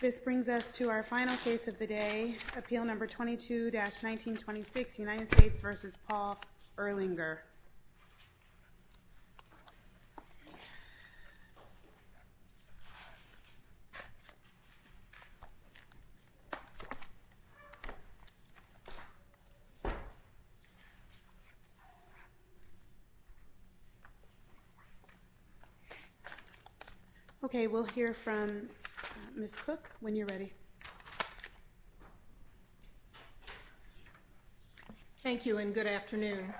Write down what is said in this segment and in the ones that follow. This brings us to our final case of the day, Appeal No. 22-1926, United States v. Paul Erlinger. Okay, we'll hear from Ms. Cook when you're ready. Thank you and good afternoon.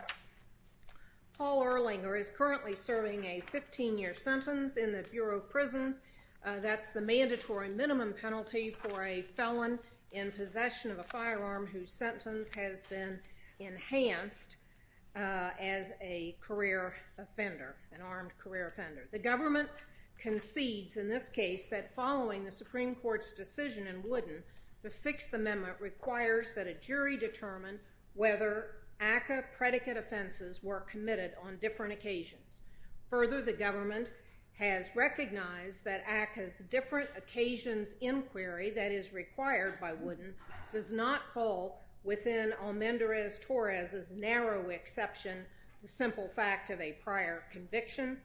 Paul Erlinger is currently serving a 15-year sentence in the Bureau of Prisons. That's the mandatory minimum penalty for a felon in possession of a firearm whose sentence has been enhanced as a career offender, an armed career offender. The government concedes in this case that following the Supreme Court's decision in Wooden, the Sixth Amendment requires that a jury determine whether ACCA predicate offenses were committed on different occasions. Further, the government has recognized that ACCA's different occasions inquiry that is required by Wooden does not fall within Almendarez-Torres' narrow exception, the simple fact of a prior conviction.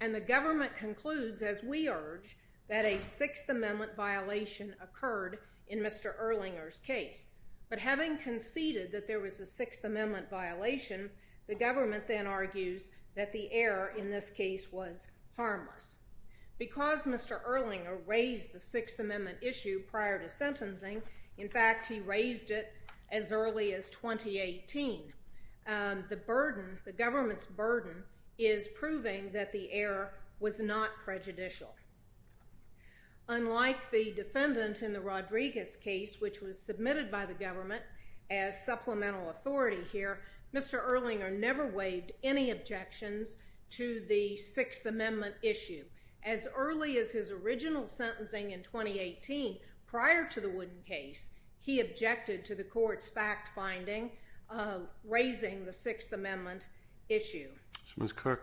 And the government concludes, as we urge, that a Sixth Amendment violation occurred in Mr. Erlinger's case. But having conceded that there was a Sixth Amendment violation, the government then argues that the error in this case was harmless. Because Mr. Erlinger raised the Sixth Amendment issue prior to sentencing, in fact, he raised it as early as 2018, the government's burden is proving that the error was not prejudicial. Unlike the defendant in the Rodriguez case, which was submitted by the government as supplemental authority here, Mr. Erlinger never waived any objections to the Sixth Amendment issue. As early as his original sentencing in 2018, prior to the Wooden case, he objected to the court's fact-finding of raising the Sixth Amendment issue. Ms. Cook,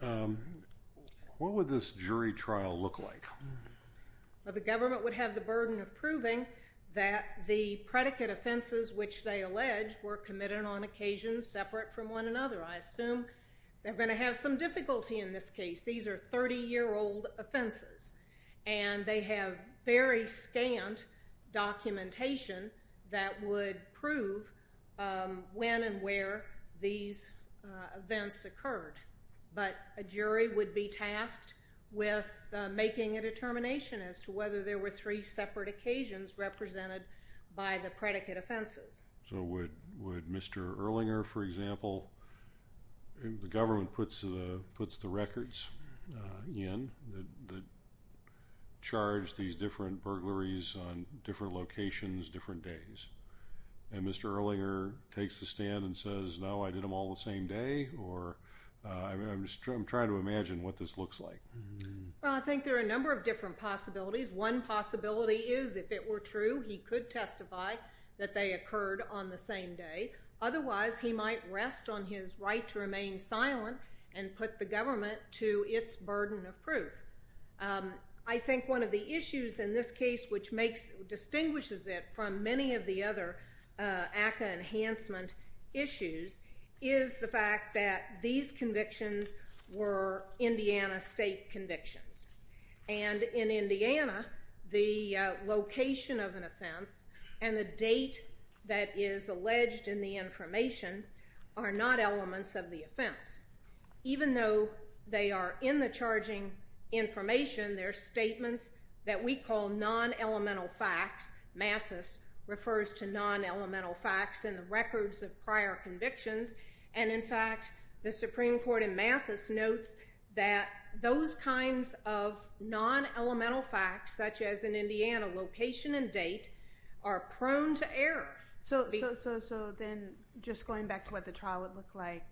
what would this jury trial look like? The government would have the burden of proving that the predicate offenses, which they allege, were committed on occasions separate from one another. I assume they're going to have some difficulty in this case. These are 30-year-old offenses, and they have very scant documentation that would prove when and where these events occurred. But a jury would be tasked with making a determination as to whether there were three separate occasions represented by the predicate offenses. So would Mr. Erlinger, for example—the government puts the records in that charge these different burglaries on different locations, different days. And Mr. Erlinger takes the stand and says, no, I did them all the same day? Or I'm trying to imagine what this looks like. Well, I think there are a number of different possibilities. One possibility is if it were true, he could testify that they occurred on the same day. Otherwise, he might rest on his right to remain silent and put the government to its burden of proof. I think one of the issues in this case which distinguishes it from many of the other ACCA enhancement issues is the fact that these convictions were Indiana state convictions. And in Indiana, the location of an offense and the date that is alleged in the information are not elements of the offense. Even though they are in the charging information, they're statements that we call non-elemental facts. Mathis refers to non-elemental facts in the records of prior convictions. And in fact, the Supreme Court in Mathis notes that those kinds of non-elemental facts, such as in Indiana, location and date, are prone to error. So then just going back to what the trial would look like,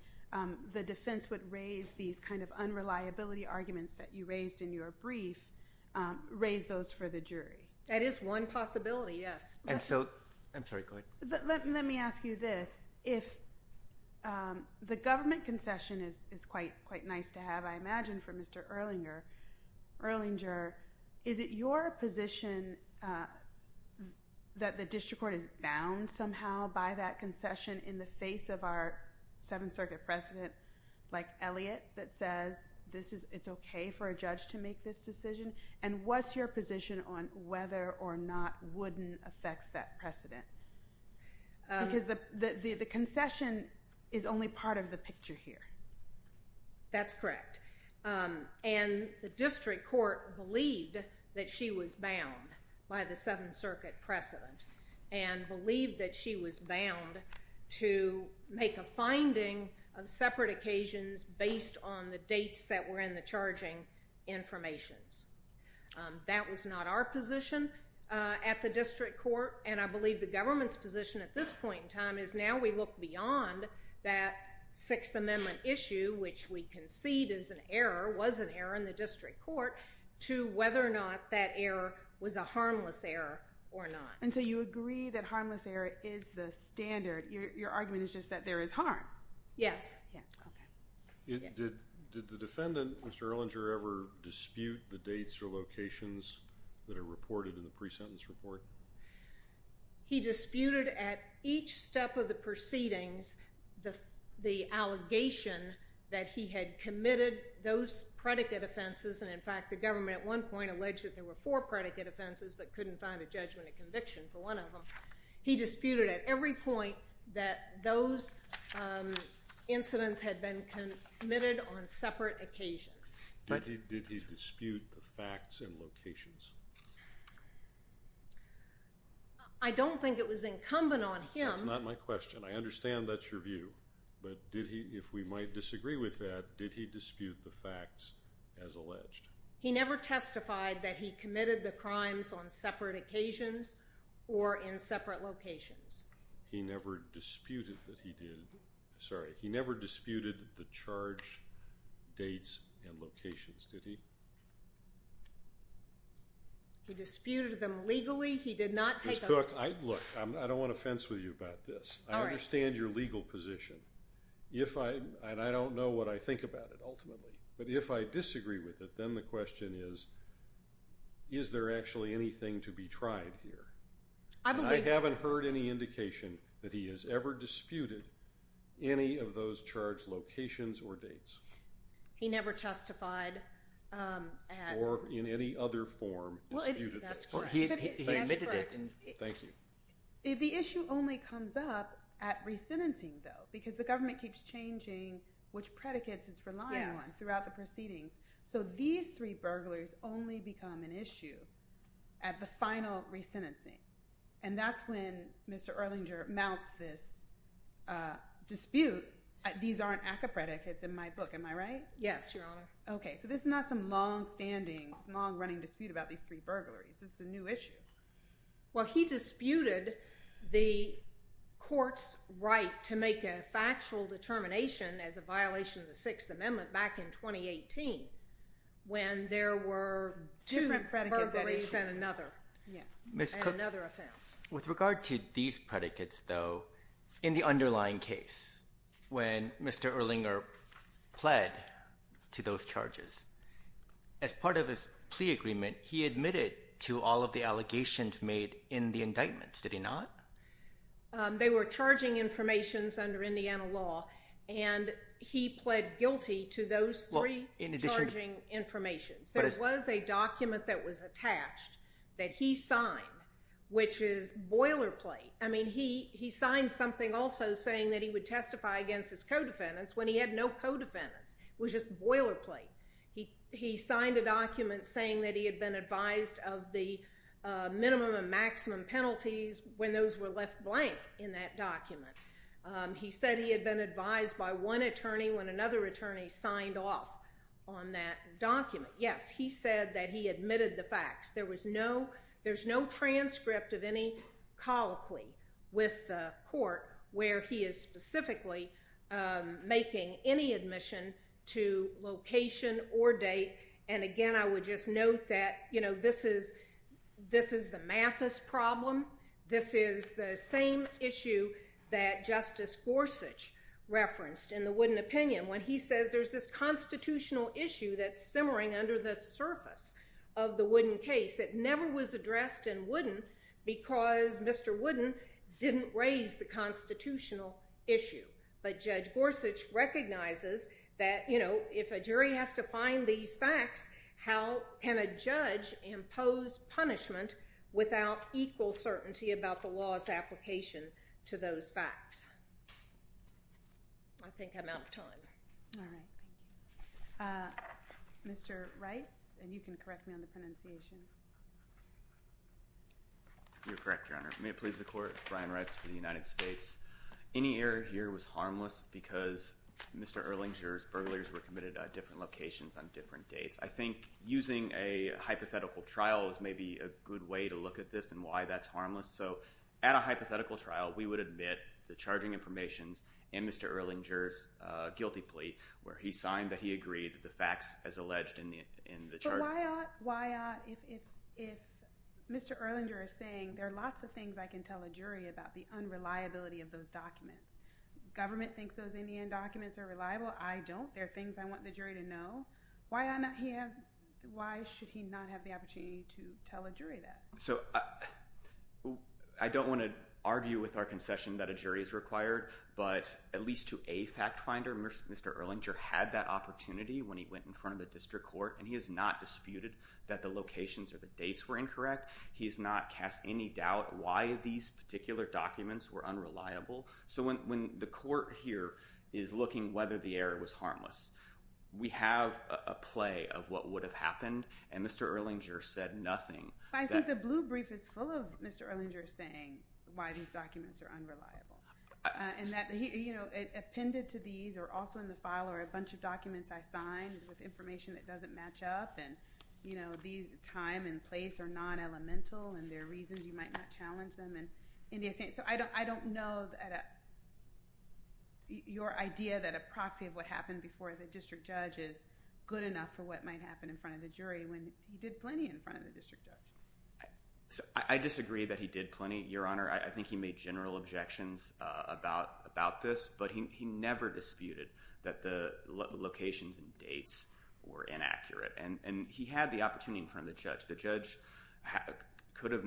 the defense would raise these kind of unreliability arguments that you raised in your brief, raise those for the jury. That is one possibility, yes. I'm sorry, go ahead. Let me ask you this. If the government concession is quite nice to have, I imagine for Mr. Erlinger, is it your position that the district court is bound somehow by that concession in the face of our Seventh Circuit precedent, like Elliott, that says it's okay for a judge to make this decision? And what's your position on whether or not Wooden affects that precedent? Because the concession is only part of the picture here. That's correct. And the district court believed that she was bound by the Seventh Circuit precedent, and believed that she was bound to make a finding of separate occasions based on the dates that were in the charging informations. That was not our position at the district court, and I believe the government's position at this point in time is now we look beyond that Sixth Amendment issue, which we concede is an error, was an error in the district court, to whether or not that error was a harmless error or not. And so you agree that harmless error is the standard. Your argument is just that there is harm. Yes. Did the defendant, Mr. Ellinger, ever dispute the dates or locations that are reported in the pre-sentence report? He disputed at each step of the proceedings the allegation that he had committed those predicate offenses, and in fact the government at one point alleged that there were four predicate offenses but couldn't find a judgment of conviction for one of them. He disputed at every point that those incidents had been committed on separate occasions. Did he dispute the facts and locations? I don't think it was incumbent on him. That's not my question. I understand that's your view, but if we might disagree with that, did he dispute the facts as alleged? He never testified that he committed the crimes on separate occasions or in separate locations. He never disputed that he did. Sorry. He never disputed the charge dates and locations, did he? He disputed them legally. He did not take a… Ms. Cook, look, I don't want to fence with you about this. All right. I understand your legal position, and I don't know what I think about it ultimately, but if I disagree with it, then the question is, is there actually anything to be tried here? I believe… And I haven't heard any indication that he has ever disputed any of those charge locations or dates. He never testified at… Or in any other form disputed them. That's correct. He admitted it. Thank you. The issue only comes up at resentencing, though, because the government keeps changing which predicates it's relying on throughout the proceedings. So these three burglars only become an issue at the final resentencing, and that's when Mr. Erlinger mounts this dispute. These aren't ACCA predicates in my book, am I right? Yes, Your Honor. Okay. So this is not some longstanding, long-running dispute about these three burglaries. This is a new issue. Well, he disputed the court's right to make a factual determination as a violation of the Sixth Amendment back in 2018 when there were two burglaries and another offense. With regard to these predicates, though, in the underlying case, when Mr. Erlinger pled to those charges, as part of his plea agreement, he admitted to all of the allegations made in the indictment, did he not? They were charging informations under Indiana law, and he pled guilty to those three charging informations. There was a document that was attached that he signed, which is boilerplate. I mean, he signed something also saying that he would testify against his co-defendants when he had no co-defendants. It was just boilerplate. He signed a document saying that he had been advised of the minimum and maximum penalties when those were left blank in that document. He said he had been advised by one attorney when another attorney signed off on that document. Yes, he said that he admitted the facts. There was no transcript of any colloquy with the court where he is specifically making any admission to location or date. And, again, I would just note that this is the Mathis problem. This is the same issue that Justice Gorsuch referenced in the Wooden Opinion. When he says there's this constitutional issue that's simmering under the surface of the Wooden case, it never was addressed in Wooden because Mr. Wooden didn't raise the constitutional issue. But Judge Gorsuch recognizes that, you know, if a jury has to find these facts, how can a judge impose punishment without equal certainty about the law's application to those facts? I think I'm out of time. All right. Mr. Reitz, and you can correct me on the pronunciation. You're correct, Your Honor. May it please the Court, Brian Reitz for the United States. Any error here was harmless because Mr. Erlinger's burglars were committed at different locations on different dates. I think using a hypothetical trial is maybe a good way to look at this and why that's harmless. So at a hypothetical trial, we would admit the charging informations in Mr. Erlinger's guilty plea where he signed that he agreed to the facts as alleged in the charges. But why ought, if Mr. Erlinger is saying there are lots of things I can tell a jury about the unreliability of those documents, government thinks those Indian documents are reliable, I don't, there are things I want the jury to know, why should he not have the opportunity to tell a jury that? So I don't want to argue with our concession that a jury is required, but at least to a fact finder, Mr. Erlinger had that opportunity when he went in front of the district court, and he has not disputed that the locations or the dates were incorrect. He has not cast any doubt why these particular documents were unreliable. So when the court here is looking whether the error was harmless, we have a play of what would have happened, and Mr. Erlinger said nothing. I think the blue brief is full of Mr. Erlinger saying why these documents are unreliable. And that he, you know, it appended to these or also in the file are a bunch of documents I signed with information that doesn't match up and, you know, these time and place are non-elemental and there are reasons you might not challenge them. So I don't know that your idea that a proxy of what happened before the district judge is good enough for what might happen in front of the jury when he did plenty in front of the district judge. I disagree that he did plenty, Your Honor. I think he made general objections about this, but he never disputed that the locations and dates were inaccurate, and he had the opportunity in front of the judge. The judge could have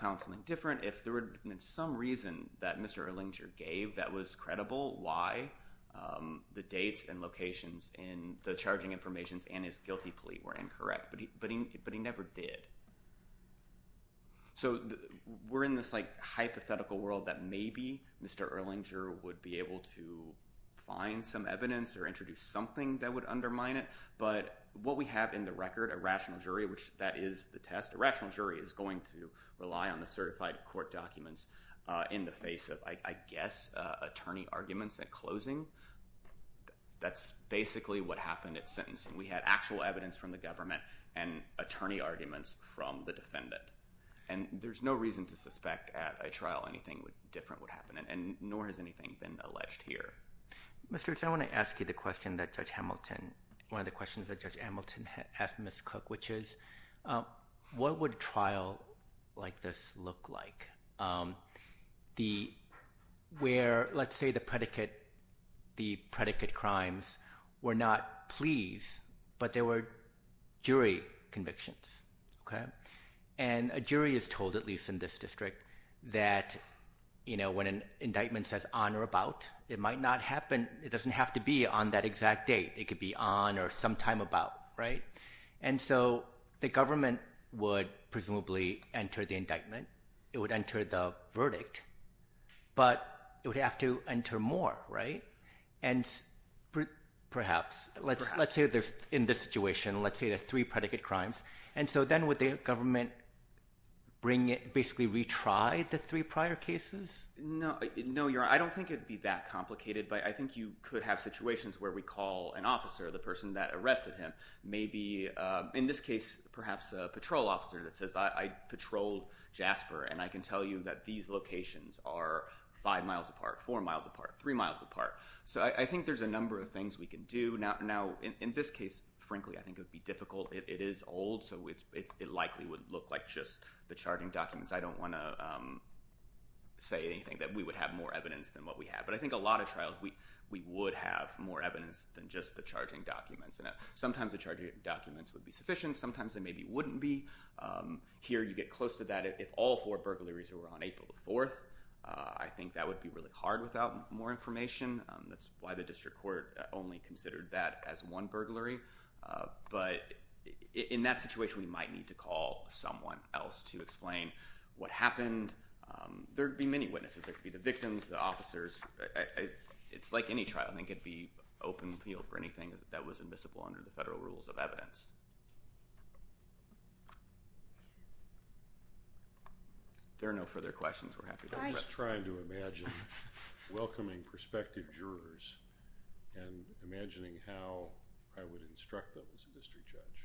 found something different if there had been some reason that Mr. Erlinger gave that was credible why the dates and locations and the charging information and his guilty plea were incorrect, but he never did. So we're in this hypothetical world that maybe Mr. Erlinger would be able to find some evidence or introduce something that would undermine it, but what we have in the record, a rational jury, which that is the test, a rational jury is going to rely on the certified court documents in the face of, I guess, attorney arguments at closing. That's basically what happened at sentencing. We had actual evidence from the government and attorney arguments from the defendant, and there's no reason to suspect at a trial anything different would happen, and nor has anything been alleged here. Mr. Rich, I want to ask you the question that Judge Hamilton, one of the questions that Judge Hamilton asked Ms. Cook, which is what would a trial like this look like where, let's say, the predicate crimes were not pleas but they were jury convictions, okay? And a jury is told, at least in this district, that when an indictment says on or about, it might not happen. It doesn't have to be on that exact date. It could be on or sometime about, right? And so the government would presumably enter the indictment. It would enter the verdict, but it would have to enter more, right? And perhaps, let's say in this situation, let's say there's three predicate crimes, and so then would the government basically retry the three prior cases? No, I don't think it would be that complicated, but I think you could have situations where we call an officer, the person that arrested him, maybe, in this case, perhaps a patrol officer that says, I patrolled Jasper, and I can tell you that these locations are five miles apart, four miles apart, three miles apart. So I think there's a number of things we could do. Now, in this case, frankly, I think it would be difficult. It is old, so it likely would look like just the charting documents. I don't want to say anything that we would have more evidence than what we have, but I think a lot of trials, we would have more evidence than just the charging documents. Sometimes the charging documents would be sufficient. Sometimes they maybe wouldn't be. Here you get close to that if all four burglaries were on April 4th. I think that would be really hard without more information. That's why the district court only considered that as one burglary. But in that situation, we might need to call someone else to explain what happened. There would be many witnesses. There could be the victims, the officers. It's like any trial. I think it would be open field for anything that was admissible under the federal rules of evidence. There are no further questions. We're happy to open up. I was trying to imagine welcoming prospective jurors and imagining how I would instruct them as a district judge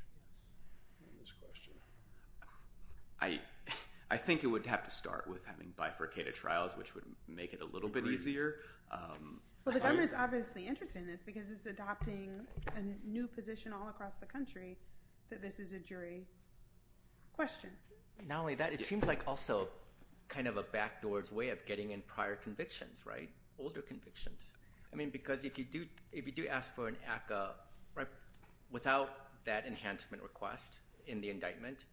on this question. I think it would have to start with having bifurcated trials, which would make it a little bit easier. Well, the government is obviously interested in this because it's adopting a new position all across the country that this is a jury question. Not only that, it seems like also kind of a backdoor's way of getting in prior convictions, right? Older convictions. Because if you do ask for an ACCA without that enhancement request in the indictment,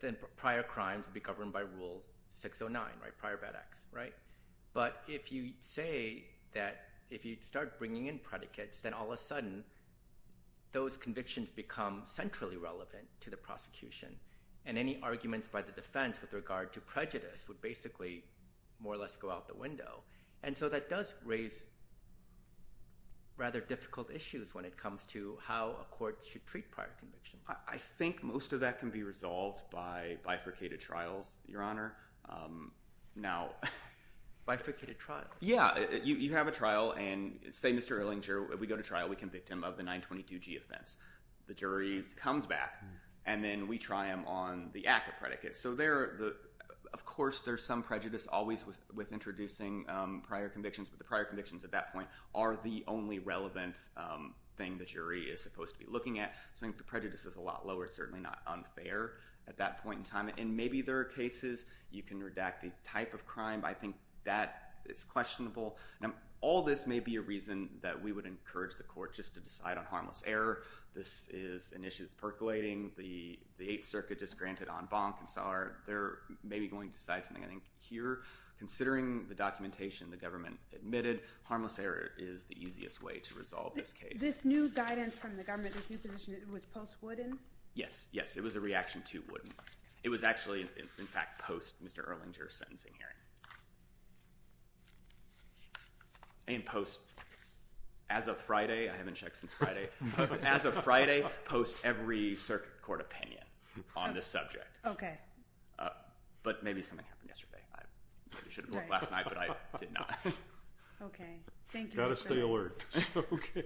then prior crimes would be governed by Rule 609, prior bad acts. But if you say that if you start bringing in predicates, then all of a sudden those convictions become centrally relevant to the prosecution and any arguments by the defense with regard to prejudice would basically more or less go out the window. And so that does raise rather difficult issues when it comes to how a court should treat prior convictions. I think most of that can be resolved by bifurcated trials, Your Honor. Bifurcated trial? Yeah. You have a trial and say, Mr. Erlinger, we go to trial, we convict him of the 922G offense. The jury comes back, and then we try him on the ACCA predicates. Of course, there's some prejudice always with introducing prior convictions, but the prior convictions at that point are the only relevant thing the jury is supposed to be looking at. So I think the prejudice is a lot lower. It's certainly not unfair at that point in time. And maybe there are cases you can redact the type of crime, but I think that is questionable. Now, all this may be a reason that we would encourage the court just to decide on harmless error. This is an issue that's percolating. The Eighth Circuit just granted en banc, and so they're maybe going to decide something, I think, here. Considering the documentation the government admitted, harmless error is the easiest way to resolve this case. This new guidance from the government, this new position, it was post-Wooden? Yes. Yes, it was a reaction to Wooden. It was actually, in fact, post-Mr. Erlinger's sentencing hearing. And post, as of Friday, I haven't checked since Friday, but as of Friday, post every circuit court opinion on this subject. Okay. But maybe something happened yesterday. I should have looked last night, but I did not. Okay. Thank you. You've got to stay alert. Okay.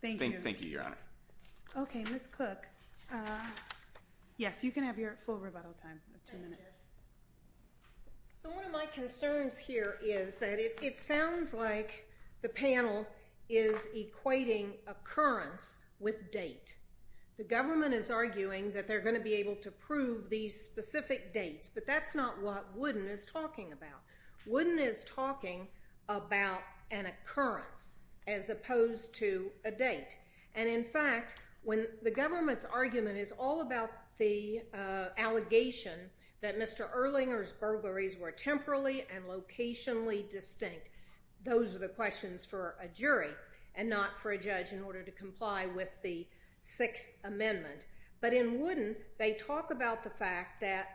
Thank you. Thank you, Your Honor. Okay. Ms. Cook, yes, you can have your full rebuttal time of two minutes. Thank you. So one of my concerns here is that it sounds like the panel is equating occurrence with date. The government is arguing that they're going to be able to prove these specific dates, but that's not what Wooden is talking about. Wooden is talking about an occurrence as opposed to a date. And, in fact, when the government's argument is all about the allegation that Mr. Erlinger's burglaries were temporally and locationally distinct, those are the questions for a jury and not for a judge in order to comply with the Sixth Amendment. But in Wooden, they talk about the fact that,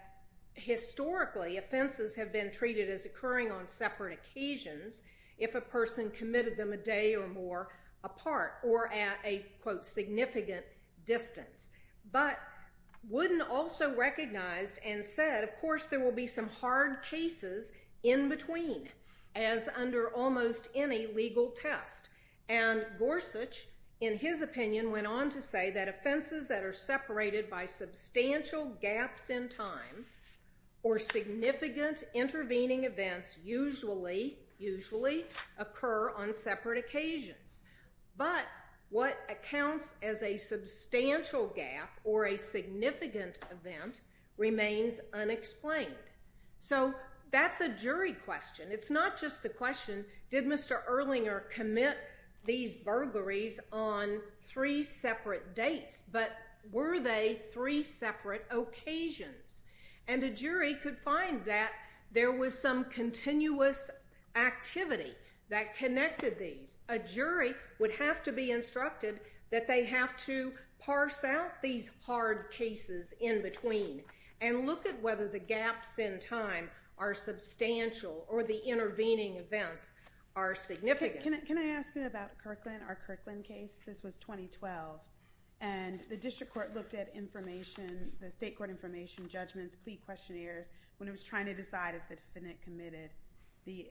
historically, offenses have been treated as occurring on separate occasions if a person committed them a day or more apart or at a, quote, significant distance. But Wooden also recognized and said, of course, there will be some hard cases in between, as under almost any legal test. And Gorsuch, in his opinion, went on to say that offenses that are separated by substantial gaps in time or significant intervening events usually occur on separate occasions. But what accounts as a substantial gap or a significant event remains unexplained. So that's a jury question. It's not just the question, did Mr. Erlinger commit these burglaries on three separate dates, but were they three separate occasions? And a jury could find that there was some continuous activity that connected these. A jury would have to be instructed that they have to parse out these hard cases in between and look at whether the gaps in time are substantial or the intervening events are significant. Can I ask you about Kirkland, our Kirkland case? This was 2012. And the district court looked at information, the state court information, judgments, plea questionnaires, when it was trying to decide if the defendant committed the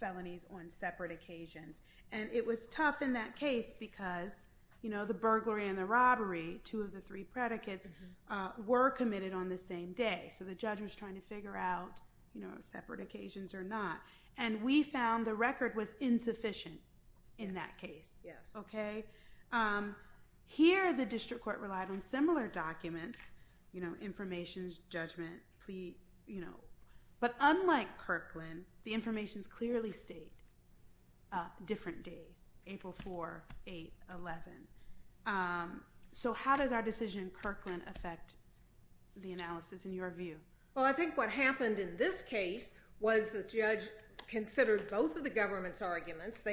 felonies on separate occasions. And it was tough in that case because the burglary and the robbery, two of the three predicates, were committed on the same day. So the judge was trying to figure out separate occasions or not. And we found the record was insufficient in that case. Yes. OK. Here, the district court relied on similar documents, information, judgment, plea. But unlike Kirkland, the informations clearly state different days, April 4, 8, 11. So how does our decision in Kirkland affect the analysis in your view? Well, I think what happened in this case was the judge considered both of the government's arguments.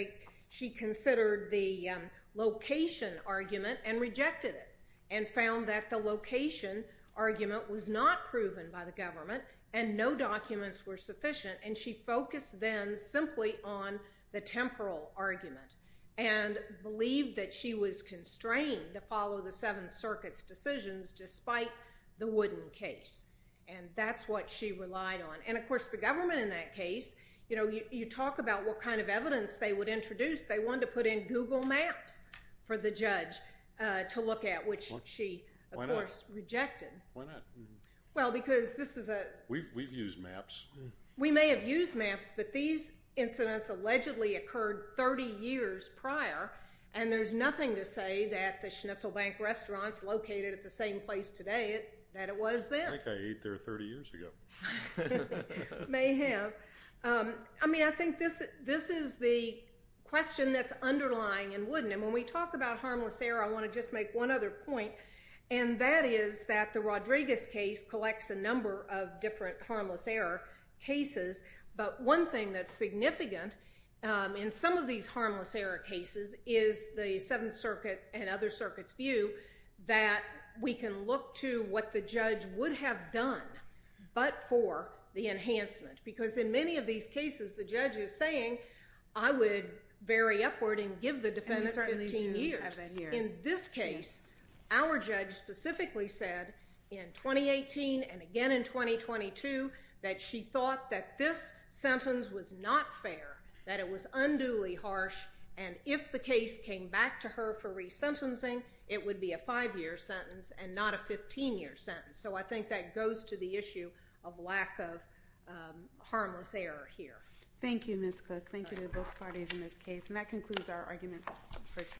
She considered the location argument and rejected it and found that the location argument was not proven by the government and no documents were sufficient. And she focused then simply on the temporal argument and believed that she was constrained to follow the Seventh Circuit's decisions despite the Wooden case. And that's what she relied on. And, of course, the government in that case, you know, you talk about what kind of evidence they would introduce. They wanted to put in Google Maps for the judge to look at, which she, of course, rejected. Why not? Well, because this is a— We've used Maps. We may have used Maps, but these incidents allegedly occurred 30 years prior, and there's nothing to say that the Schnitzel Bank restaurant's located at the same place today that it was then. I think I ate there 30 years ago. May have. I mean, I think this is the question that's underlying in Wooden. And when we talk about harmless error, I want to just make one other point, and that is that the Rodriguez case collects a number of different harmless error cases. But one thing that's significant in some of these harmless error cases is the Seventh Circuit and other circuits' view that we can look to what the judge would have done, but for the enhancement, because in many of these cases, the judge is saying, I would vary upward and give the defendant 15 years. In this case, our judge specifically said in 2018 and again in 2022 that she thought that this sentence was not fair, that it was unduly harsh, and if the case came back to her for resentencing, it would be a five-year sentence and not a 15-year sentence. So I think that goes to the issue of lack of harmless error here. Thank you, Ms. Cook. Thank you to both parties in this case. And that concludes our arguments for today.